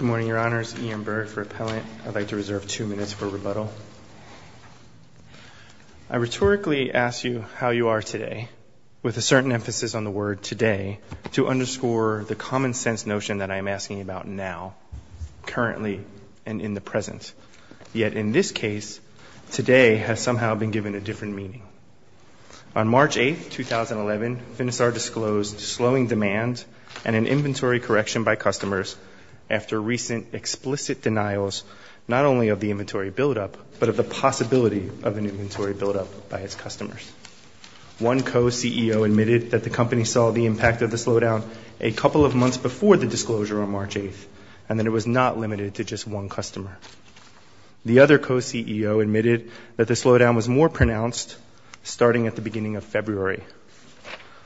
I rhetorically ask you how you are today, with a certain emphasis on the word today, to underscore the common-sense notion that I am asking about now, currently, and in the present. Yet, in this case, today has somehow been given a different meaning. On March 8, 2011, Finisar disclosed slowing demand and an inventory correction by customers after recent explicit denials not only of the inventory buildup, but of the possibility of an inventory buildup by its customers. One co-CEO admitted that the company saw the impact of the slowdown a couple of months before the disclosure on March 8, and that it was not limited to just one customer. The other co-CEO admitted that the slowdown was more pronounced starting at the beginning of February.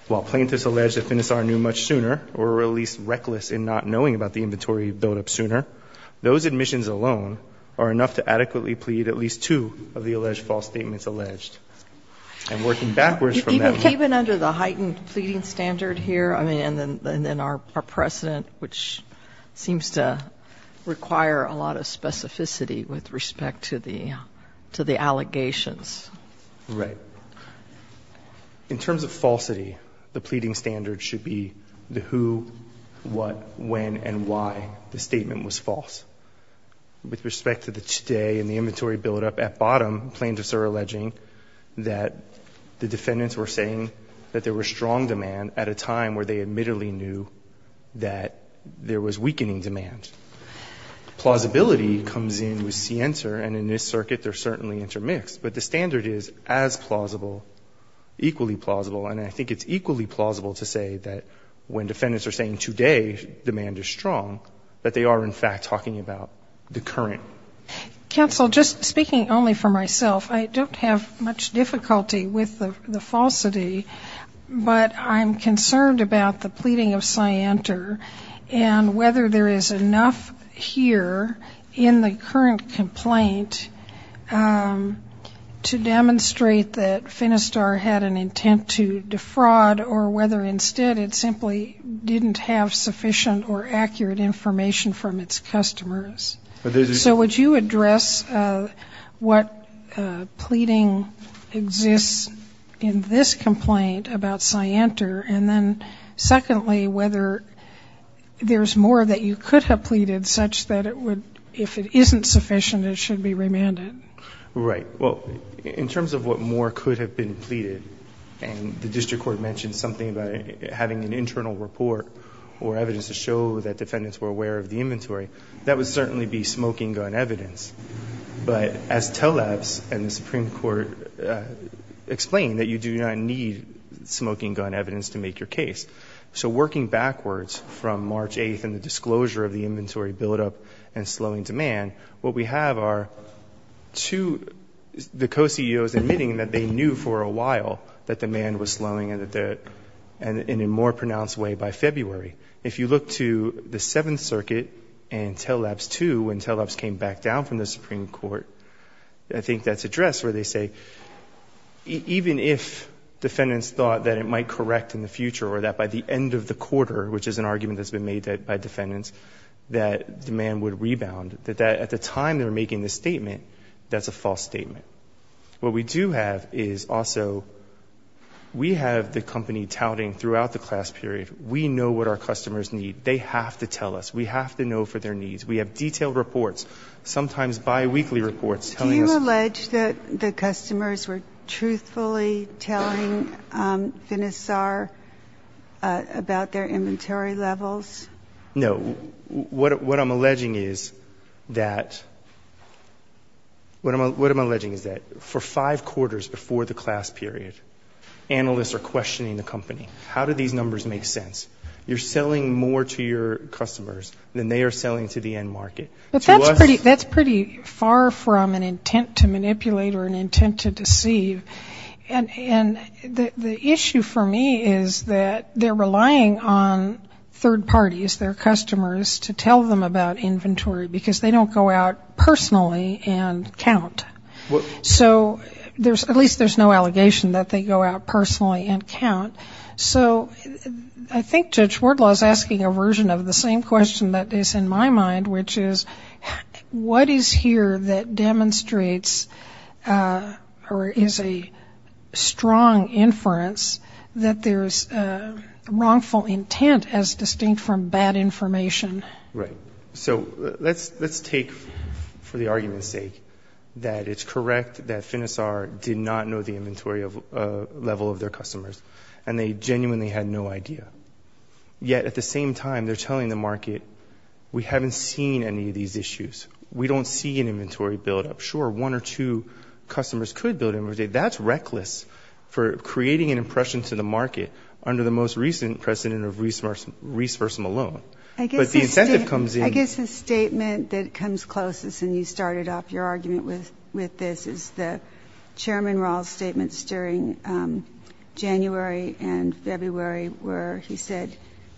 While plaintiffs allege that Finisar knew much sooner, or were at least reckless in not knowing about the inventory buildup sooner, those admissions alone are enough to adequately plead at least two of the alleged false statements alleged. And working backwards from that— Even under the heightened pleading standard here, I mean, and then our precedent, which seems to require a lot of specificity with respect to the allegations. Right. In terms of falsity, the pleading standard should be the who, what, when, and why the statement was false. With respect to the today and the inventory buildup, at bottom, plaintiffs are alleging that the defendants were saying that there was strong demand at a time where they admittedly knew that there was weakening demand. Plausibility comes in with CENTER, and in this circuit, they're certainly intermixed. But the standard is as plausible, equally plausible, and I think it's equally plausible to say that when defendants are saying today demand is strong, that they are, in fact, talking about the current. Counsel, just speaking only for myself, I don't have much difficulty with the falsity, but I'm concerned about the pleading of CENTER and whether there is enough here in the current complaint to demonstrate that Finistar had an intent to defraud or whether instead it simply didn't have sufficient or accurate information from its customers. So would you address what pleading exists in this complaint about CENTER, and then secondly whether there's more that you could have pleaded such that if it isn't sufficient, it should be remanded? Right. Well, in terms of what more could have been pleaded, and the district court mentioned something about having an internal report or evidence to show that defendants were aware of the inventory, that would certainly be smoking gun evidence. But as TLABS and the Supreme Court explained, that you do not need smoking gun evidence to make your case. So working backwards from March 8th and the disclosure of the inventory buildup and slowing demand, what we have are two, the co-CEOs admitting that they knew for a while that demand was limited, and TLABS too, when TLABS came back down from the Supreme Court, I think that's addressed where they say even if defendants thought that it might correct in the future or that by the end of the quarter, which is an argument that's been made by defendants, that demand would rebound, that at the time they were making this statement, that's a false statement. What we do have is also, we have the company touting throughout the class period, we know what our customers need. They have to tell us. We have to know for their needs. We have detailed reports, sometimes bi-weekly reports, telling us... Do you allege that the customers were truthfully telling Finisar about their inventory levels? No. What I'm alleging is that, what I'm alleging is that for five quarters before the class period, analysts are questioning the company. How do these numbers make sense? You're selling more to your customers than they are selling to the end market. But that's pretty far from an intent to manipulate or an intent to deceive, and the issue for me is that they're relying on third parties, their customers, to tell them about inventory because they don't go out personally and count. So at least there's no allegation that they go out personally and count. So I think Judge Wardlaw's asking a version of the same question that is in my mind, which is, what is here that demonstrates or is a strong inference that there's wrongful intent as distinct from bad information? Right. So let's take, for the argument's sake, that it's correct that Finisar did not know the inventory level of their customers, and they genuinely had no idea. Yet at the same time, they're telling the market, we haven't seen any of these issues. We don't see an inventory buildup. Sure, one or two customers could build up. That's reckless for creating an impression to the market under the most recent precedent of Reese vs. Malone. I guess the statement that comes closest, and you started off your argument with this, is the Chairman Raul's statements during January and February where he said,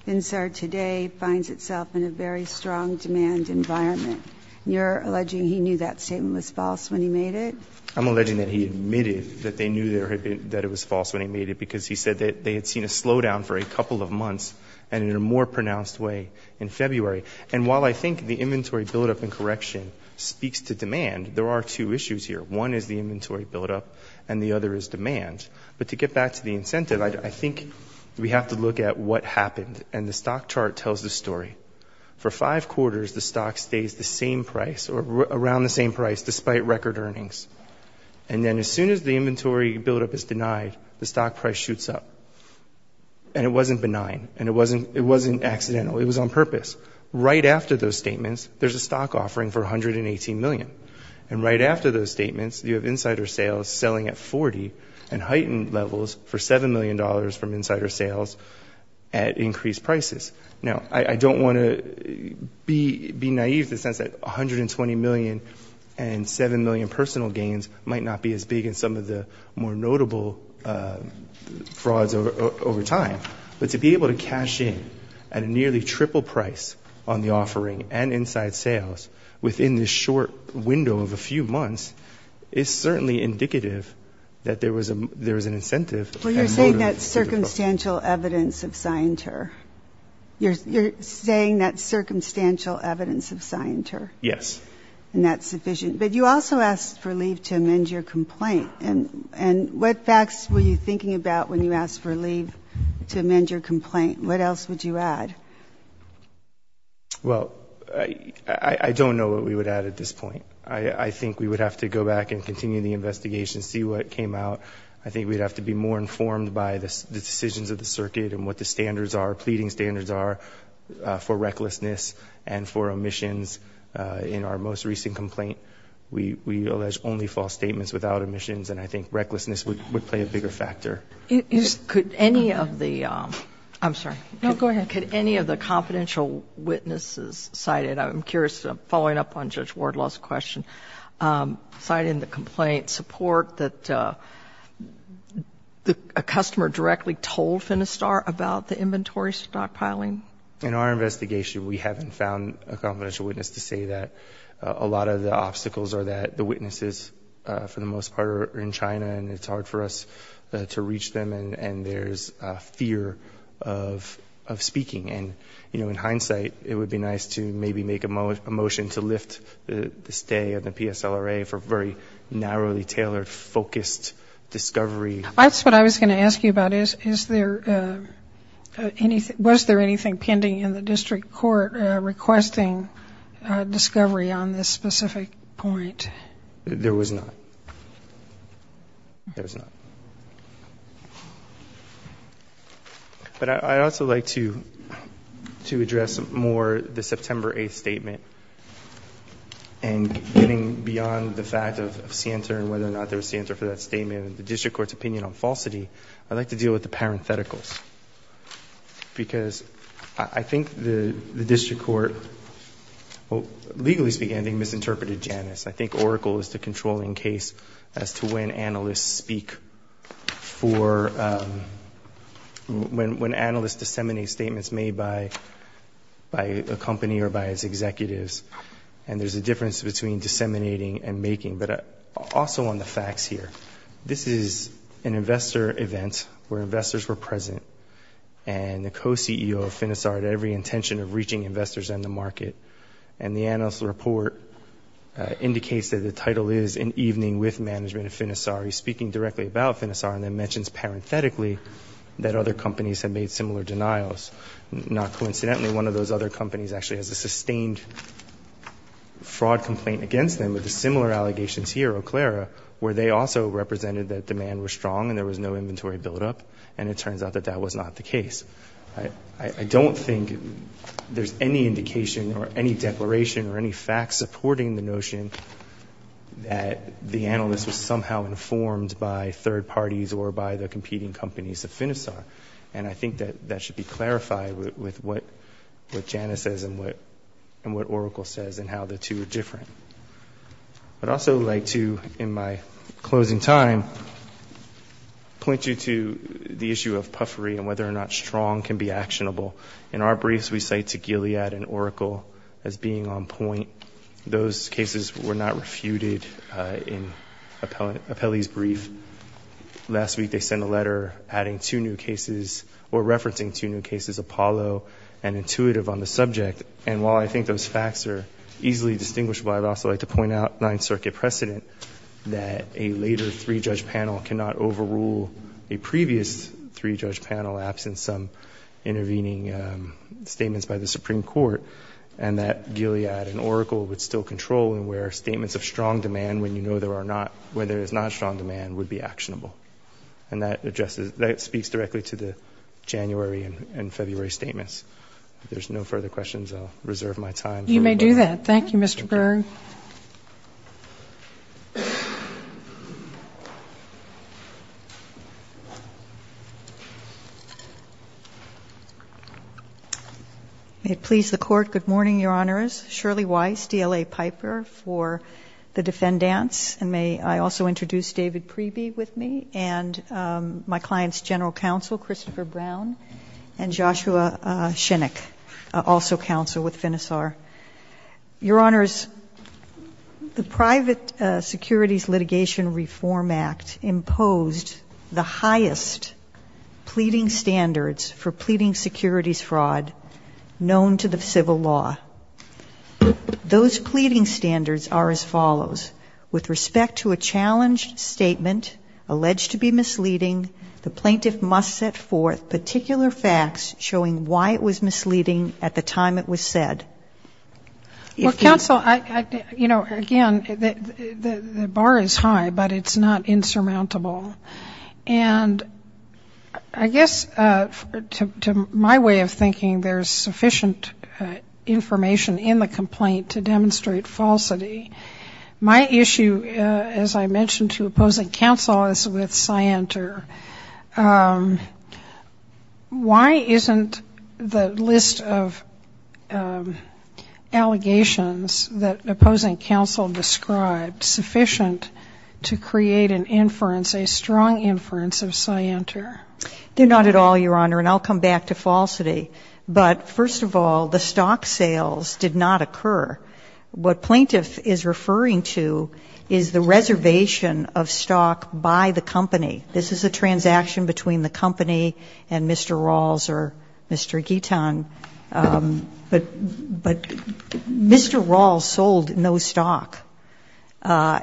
Finisar today finds itself in a very strong demand environment. You're alleging he knew that statement was false when he made it? I'm alleging that he admitted that they knew that it was false when he made it because he said that they had seen a slowdown for a couple of months and in a more pronounced way in February. And while I think the inventory buildup and correction speaks to demand, there are two issues here. One is the inventory buildup, and the other is demand. But to get back to the incentive, I think we have to look at what happened. And the stock chart tells the story. For five quarters, the stock stays the same price or around the same price despite record earnings. And then as soon as the inventory buildup is denied, the stock price shoots up. And it wasn't benign. And it wasn't accidental. It was on purpose. Right after those statements, there's a stock offering for $118 million. And right after those statements, you have insider sales selling at 40 and heightened levels for $7 million from insider sales at increased prices. Now, I don't want to be naive in the sense that $120 million and $7 million personal gains might not be as big as some of the more notable frauds over time. But to be able to cash in at a nearly triple price on the offering and inside sales within this short window of a few months is certainly indicative that there was an incentive. Well, you're saying that's circumstantial evidence of scienter. You're saying that's circumstantial evidence of scienter. Yes. And that's sufficient. But you also asked for leave to amend your complaint. And what facts were you thinking about when you asked for leave to amend your complaint? What else would you add? Well, I don't know what we would add at this point. I think we would have to go back and continue the investigation, see what came out. I think we'd have to be more informed by the decisions of the circuit and what the standards are, pleading standards are for recklessness and for omissions. In our most recent complaint, we allege only false statements without omissions. And I think recklessness would play a bigger factor. Could any of the confidential witnesses cited, I'm curious, following up on Judge Wardlaw's question, cited in the complaint support that a customer directly told Finistar about the inventory stockpiling? In our investigation, we haven't found a confidential witness to say that. A lot of the obstacles are that the witnesses, for the most part, are in China and it's hard for us to reach them and there's a fear of speaking. And, you know, in hindsight, it would be nice to maybe make a motion to lift the stay of the PSLRA for very narrowly tailored, focused discovery. That's what I was going to ask you about. Is there anything, was there anything pending in the district court requesting discovery on this specific point? There was not. There was not. But I'd also like to address more the September 8th statement and getting beyond the fact of Santer and whether or not there was Santer for that statement. In the district court's opinion on falsity, I'd like to deal with the parentheticals because I think the district court, legally speaking, misinterpreted Janus. I think Oracle is the controlling case as to when analysts speak for, when analysts disseminate statements made by a company or by its executives. And there's a difference between disseminating and making. But also on the facts here, this is an investor event where investors were present and the co-CEO of Finisar had every intention of reaching investors and the market. And the analyst's report indicates that the title is An Evening with Management of Finisar. He's speaking directly about Finisar and then mentions parenthetically that other companies have made similar denials. Not coincidentally, one of those other companies actually has a sustained fraud complaint against them with the similar allegations here, Euclera, where they also represented that demand was strong and there was no inventory buildup. And it turns out that that was not the case. I don't think there's any indication or any declaration or any facts supporting the notion that the analyst was somehow informed by third parties or by the competing companies of Finisar. And I think that that should be clarified with what Jana says and what Oracle says and how the two are different. I'd also like to, in my closing time, point you to the issue of puffery and whether or not strong can be actionable. In our briefs, we cite to Gilead and Oracle as being on point. Those cases were not refuted in Apelli's brief. Last week, they sent a letter adding two new cases, Apollo and Intuitive, on the subject. And while I think those facts are easily distinguishable, I'd also like to point out Ninth Circuit precedent that a later three-judge panel cannot overrule a previous three-judge panel, absent some intervening statements by the Supreme Court, and that Gilead and Oracle would still control and where statements of strong demand, when you know there is not strong demand, would be actionable. And that speaks directly to January and February statements. If there's no further questions, I'll reserve my time. You may do that. Thank you, Mr. Berg. May it please the Court, good morning, Your Honors. Shirley Weiss, DLA Piper for the defendants. And may I also introduce David Preeby with me, and my client's general counsel, Christopher Brown, and Joshua Shinnick, also counsel with FINISAR. Your Honors, the Private Securities Litigation Reform Act imposed the highest pleading standards for pleading securities fraud known to the civil law. Those pleading standards are as follows, with respect to a challenged statement, alleged to be misleading, the plaintiff must set forth particular facts showing why it was misleading at the time it was said. Well, counsel, you know, again, the bar is high, but it's not insurmountable. And I guess to my way of thinking, there's sufficient information in the complaint to demonstrate falsity. My issue, as I mentioned to opposing counsel, is with Scienter. Why isn't the list of allegations that opposing counsel described sufficient to create an inference, a strong inference of Scienter? Not at all, Your Honor, and I'll come back to falsity. But first of all, the stock sales did not occur. What plaintiff is referring to is the reservation of stock by the company. This is a transaction between the company and Mr. Rawls or Mr. Guiton, but Mr. Rawls sold no stock.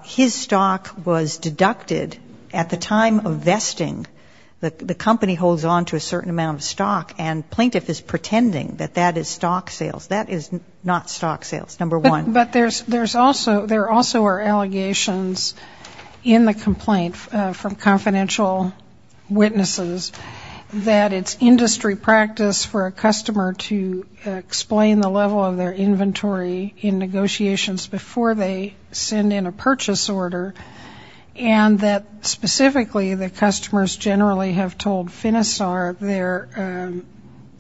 His stock was deducted at the time of vesting. The company holds on to a non-stock sales, number one. But there also are allegations in the complaint from confidential witnesses that it's industry practice for a customer to explain the level of their inventory in negotiations before they send in a purchase order, and that specifically the customers generally have told Finisar their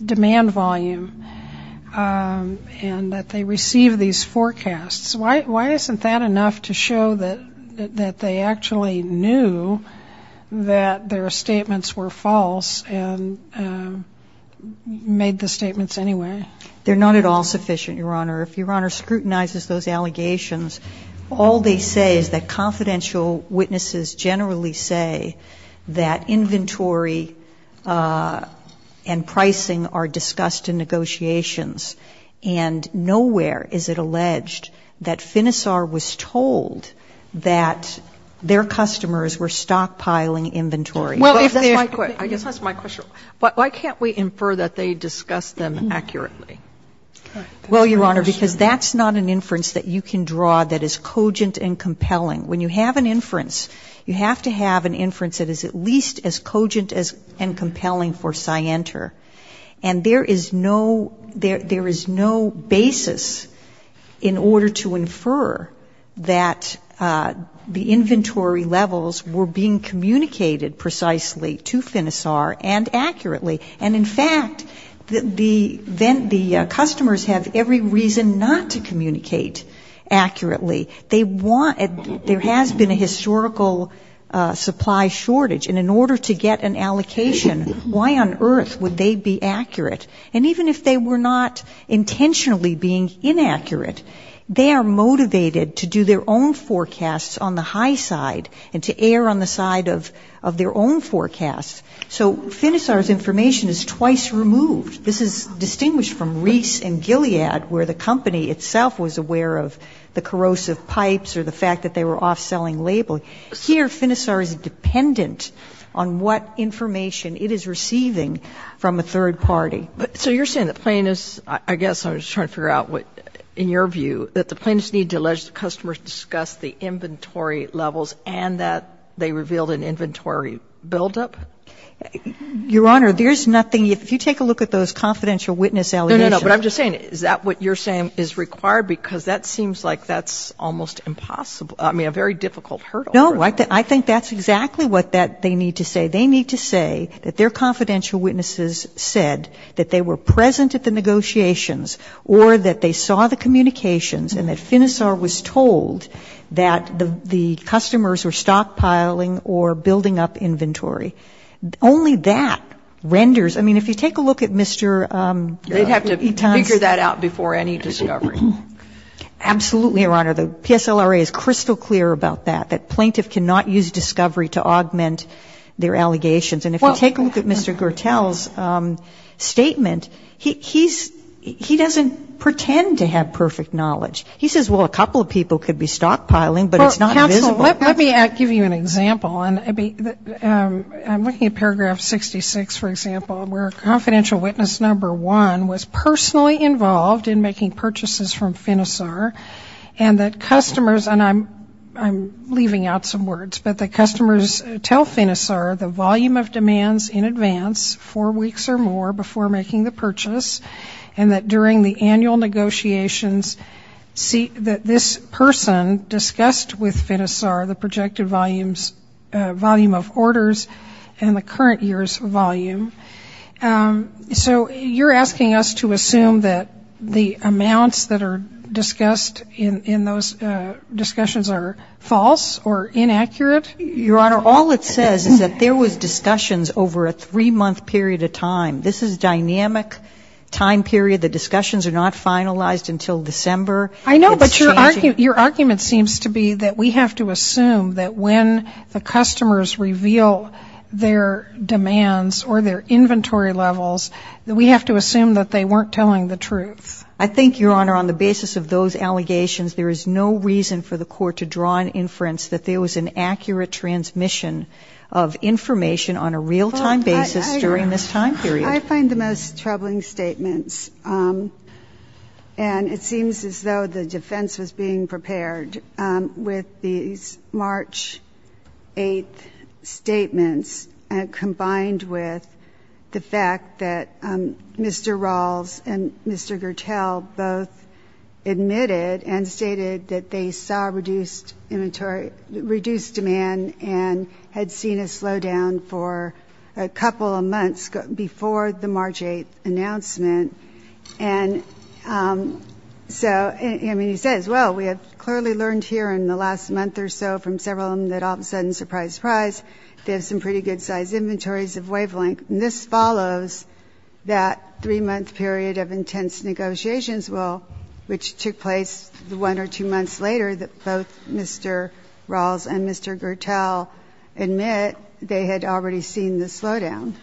demand volume and that they receive these forecasts. Why isn't that enough to show that they actually knew that their statements were false and made the statements anyway? They're not at all sufficient, Your Honor. If Your Honor scrutinizes those allegations, all they say is that confidential witnesses generally say that inventory and pricing are discussed in negotiations, and nowhere is it alleged that Finisar was told that their customers were stockpiling inventory. Well, if there's my question, I guess that's my question. Why can't we infer that they discussed them accurately? Well, Your Honor, because that's not an inference that you can draw that is cogent and compelling. When you have an inference, you have to have an inference that is at least as cogent and compelling for Scienter. And there is no basis in order to infer that the inventory levels were being communicated precisely to Finisar and accurately. And in fact, the inventory customers have every reason not to communicate accurately. They want to. There has been a historical supply shortage, and in order to get an allocation, why on earth would they be accurate? And even if they were not intentionally being inaccurate, they are motivated to do their own forecasts on the high side and to err on the side of their own forecast. So Finisar's information is twice removed. This is distinguished from Reese and Gilead, where the company itself was aware of the corrosive pipes or the fact that they were off-selling labeling. Here, Finisar is dependent on what information it is receiving from a third party. So you're saying the plaintiffs, I guess I'm just trying to figure out what, in your view, that the plaintiffs need to allege the customers discussed the inventory levels and that they revealed an inventory buildup? Your Honor, there's nothing. If you take a look at those confidential witness allegations No, no, no. But I'm just saying, is that what you're saying is required? Because that seems like that's almost impossible. I mean, a very difficult hurdle. No. I think that's exactly what they need to say. They need to say that their confidential witnesses said that they were present at the negotiations or that they saw the communications and that Finisar was told that the customers were stockpiling or building up inventory. Only that renders ‑‑ I mean, if you take a look at Mr. Eton's They'd have to figure that out before any discovery. Absolutely, Your Honor. The PSLRA is crystal clear about that, that plaintiff cannot use discovery to augment their allegations. And if you take a look at Mr. Gertel's statement, he's ‑‑ he doesn't pretend to have perfect knowledge. He says, well, a couple of people could be stockpiling, but it's not visible. Counsel, let me give you an example. I'm looking at paragraph 66, for example, where confidential witness number one was personally involved in making purchases from Finisar and that customers, and I'm leaving out some words, but that customers tell Finisar the volume of demands in advance, four weeks or more before making the purchase, and that during the annual negotiations, that this person discussed with Finisar the projected volume of orders and the current year's volume. So you're asking us to assume that the amounts that are discussed in those discussions are false or inaccurate? Your Honor, all it says is that there was discussions over a three-month period of time. This is dynamic time period. The discussions are not finalized until December. I know, but your argument seems to be that we have to assume that when the customers reveal their demands or their inventory levels, that we have to assume that they weren't telling the truth. I think, Your Honor, on the basis of those allegations, there is no reason for the court to draw an inference that there was an accurate transmission of information on a real-time basis during this time period. I find the most troubling statements, and it seems as though the defense was being prepared with these March 8th statements, combined with the fact that Mr. Rawls and Mr. Gertel both admitted and stated that they saw reduced demand and had seen a slowdown for a couple of months before the March 8th announcement. And so, I mean, he says, well, we have clearly learned here in the last month or so from several of them that all of a sudden, surprise, surprise, they have some pretty good-sized Well, which took place one or two months later, that both Mr. Rawls and Mr. Gertel admit they had already seen the slowdown.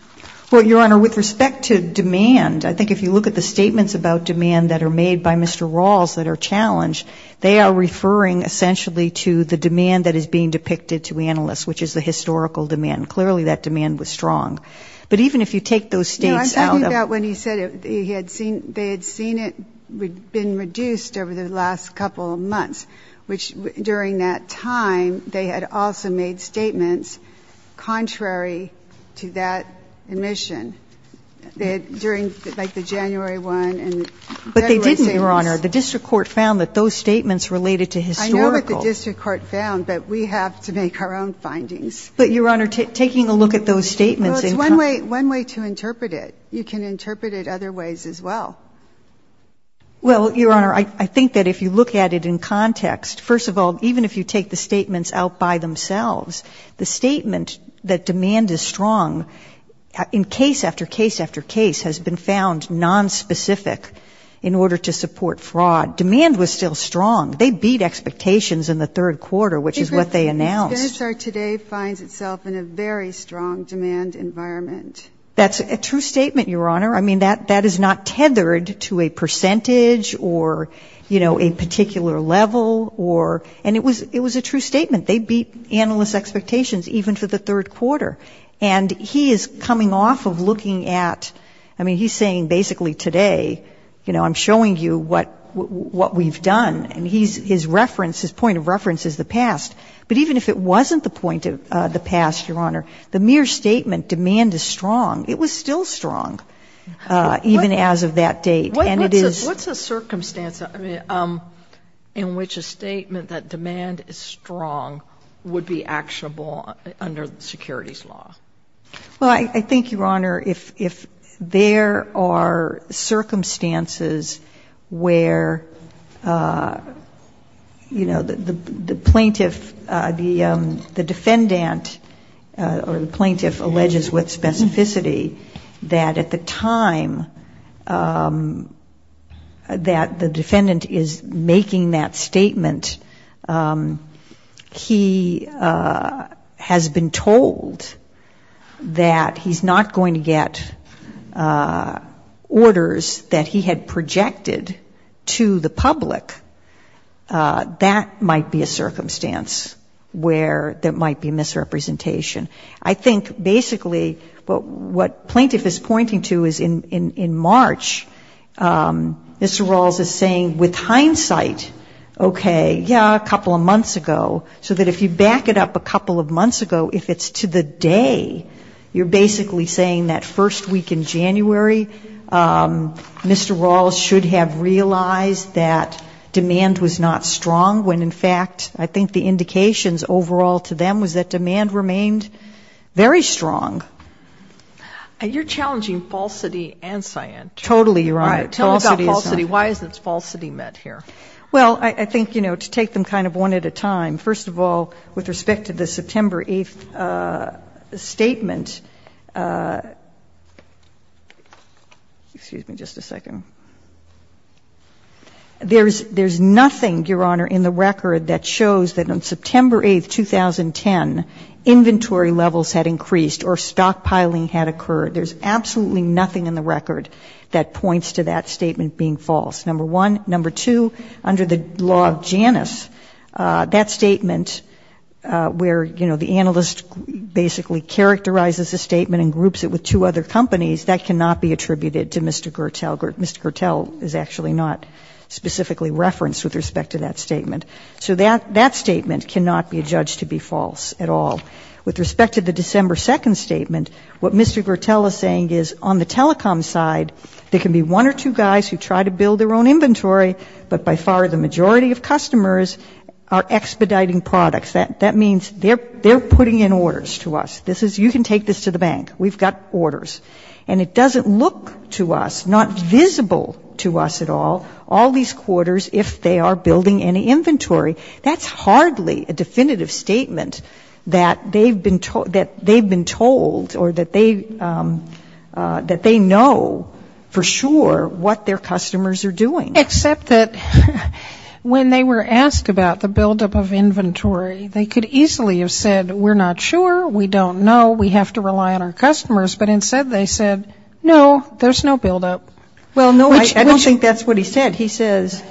Well, Your Honor, with respect to demand, I think if you look at the statements about demand that are made by Mr. Rawls that are challenged, they are referring essentially to the demand that is being depicted to analysts, which is the historical demand. Clearly that demand was strong. But even if you take those states out of the room and they had seen it been reduced over the last couple of months, which during that time they had also made statements contrary to that admission. They had, during, like, the January 1 and February statements. But they didn't, Your Honor. The district court found that those statements related to historical. I know what the district court found, but we have to make our own findings. But Your Honor, taking a look at those statements in Well, it's one way to interpret it. You can interpret it other ways as well. Well, Your Honor, I think that if you look at it in context, first of all, even if you take the statements out by themselves, the statement that demand is strong in case after case after case has been found nonspecific in order to support fraud. Demand was still strong. They beat expectations in the third quarter, which is what they announced. The State of Minnesota today finds itself in a very strong demand environment. That's a true statement, Your Honor. I mean, that is not tethered to a percentage or, you know, a particular level or, and it was a true statement. They beat analysts' expectations even for the third quarter. And he is coming off of looking at, I mean, he's saying basically today, you know, I'm showing you what we've done. And his reference, his point of reference is the past. But even if it wasn't the point of the past, Your Honor, the mere statement demand is strong, it was still strong even as of that date. And it is. What's a circumstance in which a statement that demand is strong would be actionable under securities law? Well, I think, Your Honor, if there are circumstances where, you know, the plaintiff, the defendant or the plaintiff alleges with specificity that at the time that the defendant is making that statement, he has been told that he's not going to get orders that he had projected to the public, that might be a circumstance where there might be misrepresentation. I think basically what plaintiff is pointing to is in March, Mr. Rawls is saying with hindsight okay, yeah, a couple of months ago, so that if you back it up a couple of months ago, if it's to the day, you're basically saying that first week in January, Mr. Rawls should have realized that demand was not strong, when in fact I think the indications overall to them was that demand remained very strong. You're challenging falsity and scient. Totally, Your Honor. Tell me about falsity. Why isn't falsity met here? Well, I think, you know, to take them kind of one at a time, first of all, with respect to the September 8th statement, excuse me just a second, there's nothing, Your Honor, in the record that shows that on September 8th, 2010, inventory levels had increased or stockpiling had occurred. There's absolutely nothing in the record that points to that statement being false. Number one. Number two, under the law of Janus, that statement where, you know, the analyst basically characterizes a statement and groups it with two other companies, that cannot be attributed to Mr. Gertel. Mr. Gertel is actually not specifically referenced with respect to that statement. So that statement cannot be judged to be false at all. With respect to the December 2nd statement, what Mr. Gertel is saying is on the telecom side, there can be one or two guys who try to build their own inventory, but by far the majority of customers are expediting products. That means they're putting in orders to us. This is, you can take this to the bank. We've got orders. And it doesn't look to us, not visible to us at all, all these quarters, if they are building any inventory. That's hardly a definitive statement that they've been told or that they know that they know for sure what their customers are doing. Except that when they were asked about the buildup of inventory, they could easily have said we're not sure, we don't know, we have to rely on our customers. But instead they said, no, there's no buildup. Well, no, I don't think that's what he said. He says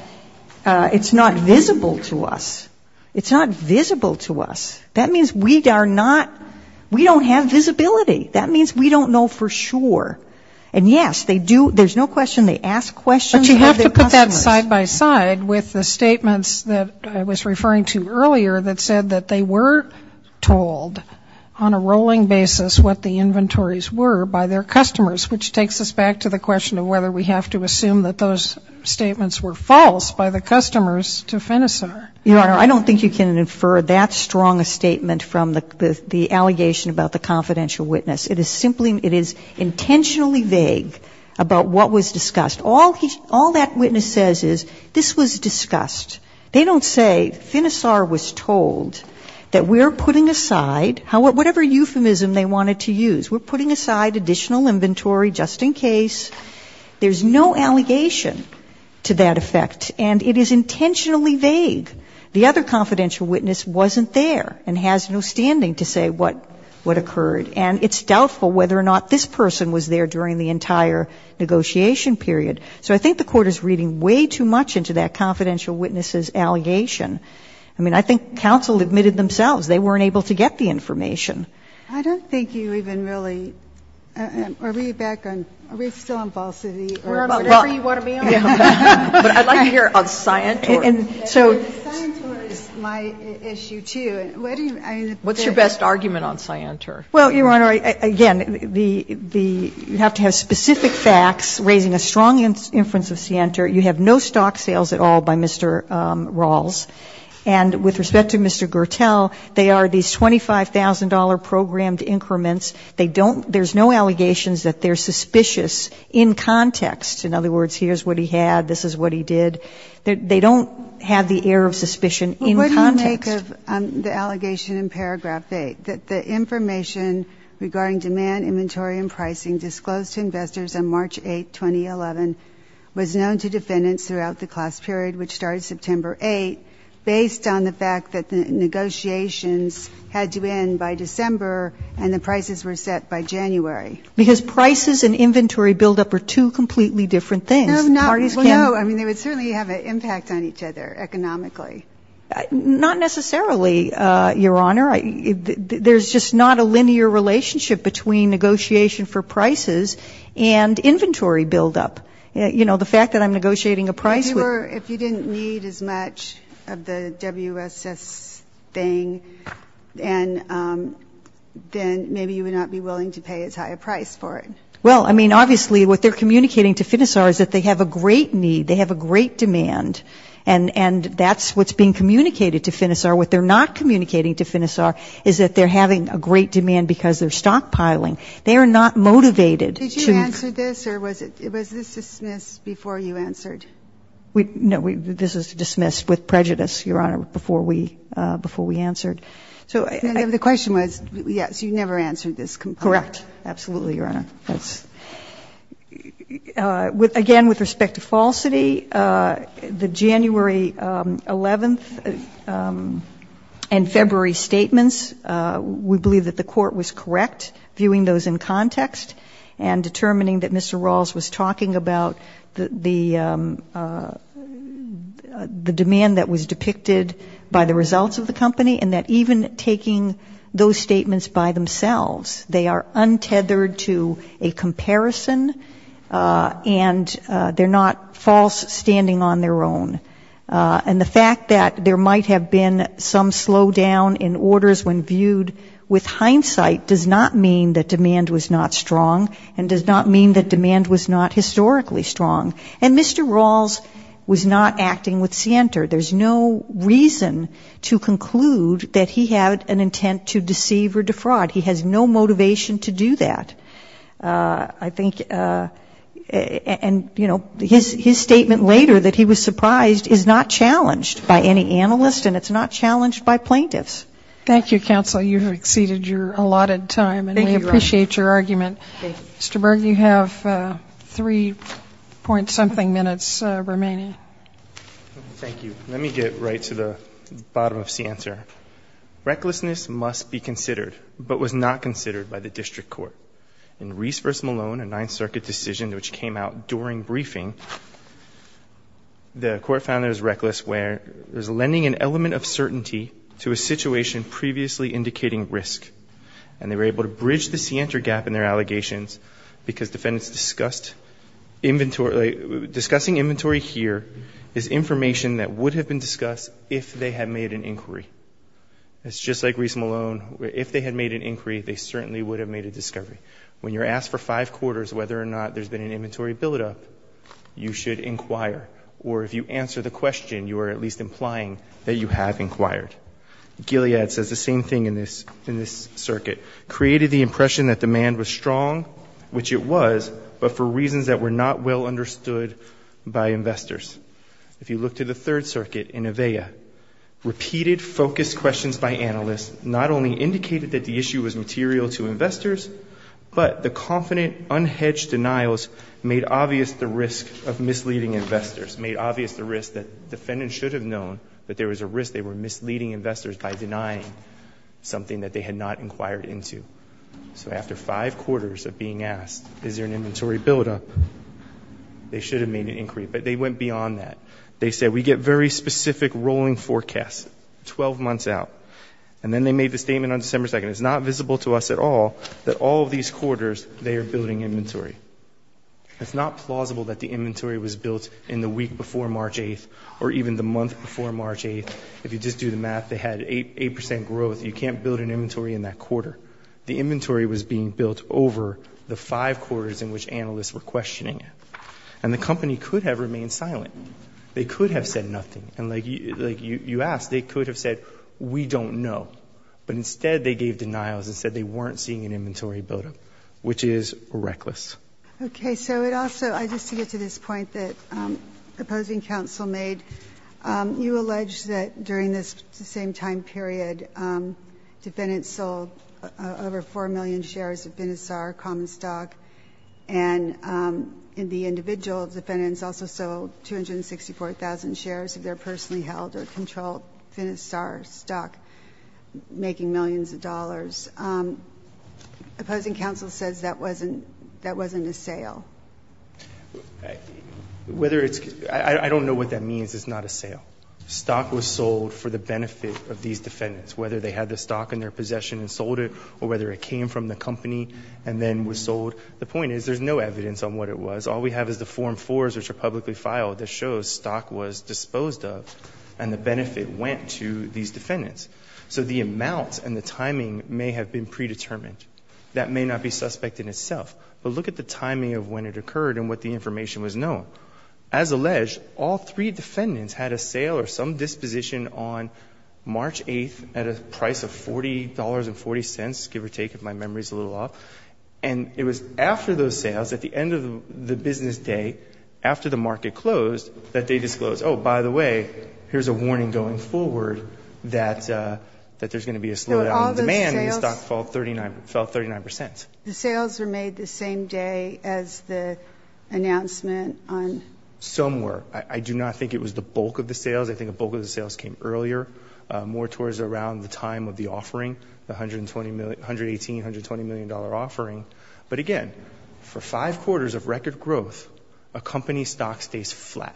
it's not visible to us. It's not visible to us. That means we are not, we don't have visibility. That means we don't know for sure. And yes, they do, there's no question, they ask questions of their customers. But you have to put that side by side with the statements that I was referring to earlier that said that they were told on a rolling basis what the inventories were by their customers, which takes us back to the question of whether we have to assume that those statements were false by the customers to Finisar. Your Honor, I don't think you can infer that strong a statement from the allegation about the confidential witness. It is intentionally vague about what was discussed. All that witness says is this was discussed. They don't say Finisar was told that we're putting aside, whatever euphemism they wanted to use, we're putting aside additional inventory just in case. There's no allegation to that effect. And it is intentionally vague. The other confidential witness wasn't there and has no standing to say what occurred. And it's doubtful whether or not this person was there during the entire negotiation period. So I think the Court is reading way too much into that confidential witnesses' allegation. I mean, I think counsel admitted themselves they weren't able to get the information. I don't think you even really, are we back on, are we still on falsity or whatever you want to be on? But I'd like to hear on Scientur. And so. Scientur is my issue, too. What do you, I mean. What's your best argument on Scientur? Well, Your Honor, again, the, you have to have specific facts raising a strong inference of Scientur. You have no stock sales at all by Mr. Rawls. And with respect to Mr. Gertel, they are these $25,000 programmed increments. They don't, there's no allegations that they're suspicious in context. In other words, here's what he had, this is what he did. They don't have the air of suspicion in context. What do you make of the allegation in paragraph eight, that the information regarding demand, inventory, and pricing disclosed to investors on March 8, 2011, was known to defendants throughout the class period, which started September 8, based on the fact that the negotiations had to end by December and the prices were set by January? Because prices and inventory buildup are two completely different things. Parties can. No. Well, no. I mean, they would certainly have an impact on each other economically. Not necessarily, Your Honor. There's just not a linear relationship between negotiation for prices and inventory buildup. You know, the fact that I'm negotiating a price with If you didn't need as much of the WSS thing, then maybe you would not be willing to pay as high a price for it. Well, I mean, obviously what they're communicating to Finisar is that they have a great need. They have a great demand. And that's what's being communicated to Finisar. What they're not communicating to Finisar is that they're having a great demand because they're stockpiling. They are not motivated to Did you answer this, or was this dismissed before you answered? No, this was dismissed with prejudice, Your Honor, before we answered. So the question was, yes, you never answered this completely. Correct. Absolutely, Your Honor. Again, with respect to falsity, the January 11th and February statements, we believe that the court was correct viewing those in context and determining that Mr. Rawls was talking about the demand that was depicted by the results of the company and that even taking those statements by themselves, they are untethered to a comparison and they're not false standing on their own. And the fact that there might have been some slowdown in orders when viewed with hindsight does not mean that demand was not strong and does not mean that demand was not historically strong. And Mr. Rawls was not acting with scienter. There's no reason to conclude that he had an intent to deceive or defraud. He has no motivation to do that. I think, and, you know, his statement later that he was surprised is not challenged by any analyst and it's not challenged by plaintiffs. Thank you, counsel. You've exceeded your allotted time. Thank you, Your Honor. And we appreciate your argument. Thank you. Mr. Berg, you have three point something minutes remaining. Thank you. Let me get right to the bottom of scienter. Recklessness must be considered but was not considered by the district court. In Reese v. Malone, a Ninth Circuit decision which came out during briefing, the court found that it was reckless where it was lending an element of certainty to a situation previously indicating risk. And they were able to bridge the scienter gap in their allegations because defendants discussed inventory. Discussing inventory here is information that would have been discussed if they had made an inquiry. It's just like Reese v. Malone. If they had made an inquiry, they certainly would have made a discovery. When you're asked for five quarters whether or not there's been an inventory buildup, you should inquire. Or if you answer the question, you are at least implying that you have inquired. Gilead says the same thing in this circuit. It created the impression that demand was strong, which it was, but for reasons that were not well understood by investors. If you look to the Third Circuit in Avella, repeated focused questions by analysts not only indicated that the issue was material to investors, but the confident unhedged denials made obvious the risk of misleading investors, made obvious the risk that defendants should have known that there was a risk they were misleading investors by denying something that they had not inquired into. So after five quarters of being asked, is there an inventory buildup, they should have made an inquiry, but they went beyond that. They said, we get very specific rolling forecasts 12 months out. And then they made the statement on December 2nd, it's not visible to us at all, that all of these quarters they are building inventory. It's not plausible that the inventory was built in the week before March 8th or even the month before March 8th. If you just do the math, they had 8 percent growth. You can't build an inventory in that quarter. The inventory was being built over the five quarters in which analysts were questioning it. And the company could have remained silent. They could have said nothing. And like you asked, they could have said, we don't know. But instead they gave denials and said they weren't seeing an inventory buildup, which is reckless. Okay. So it also, just to get to this point that opposing counsel made, you allege that during this same time period defendants sold over 4 million shares of Finisar common stock, and the individual defendants also sold 264,000 shares of their personally held or controlled Finisar stock, making millions of dollars. Opposing counsel says that wasn't a sale. Whether it's – I don't know what that means. It's not a sale. Stock was sold for the benefit of these defendants, whether they had the stock in their possession and sold it or whether it came from the company and then was sold. The point is there's no evidence on what it was. All we have is the Form 4s which are publicly filed that shows stock was disposed of and the benefit went to these defendants. So the amount and the timing may have been predetermined. That may not be suspect in itself. But look at the timing of when it occurred and what the information was known. As alleged, all three defendants had a sale or some disposition on March 8th at a price of $40.40, give or take if my memory is a little off. And it was after those sales, at the end of the business day, after the market closed, that they disclosed, oh, by the way, here's a warning going forward that there's going to be a slowdown in demand and the stock fell 39%. The sales were made the same day as the announcement on? Some were. I do not think it was the bulk of the sales. I think a bulk of the sales came earlier, more towards around the time of the offering, the $118 million, $120 million offering. But again, for five quarters of record growth, a company stock stays flat.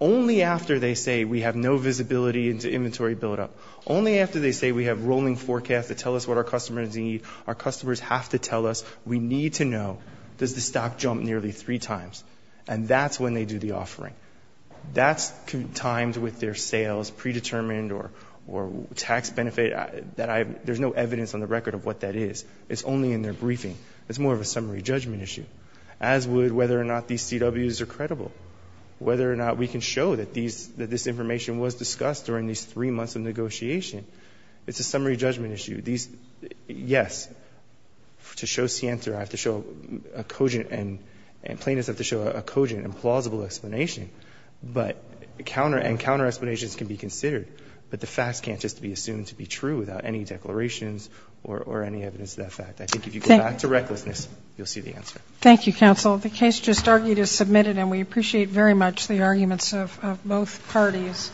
Only after they say we have no visibility into inventory buildup, only after they say we have rolling forecasts that tell us what our customers need, our customers have to tell us we need to know, does the stock jump nearly three times? And that's when they do the offering. That's timed with their sales predetermined or tax benefit. There's no evidence on the record of what that is. It's only in their briefing. It's more of a summary judgment issue, as would whether or not these CWs are true, whether or not we can show that this information was discussed during these three months of negotiation. It's a summary judgment issue. Yes, to show scienter, plaintiffs have to show a cogent and plausible explanation, and counter explanations can be considered, but the facts can't just be assumed to be true without any declarations or any evidence of that fact. I think if you go back to recklessness, you'll see the answer. Thank you, counsel. The case just argued is submitted, and we appreciate very much the arguments of both parties.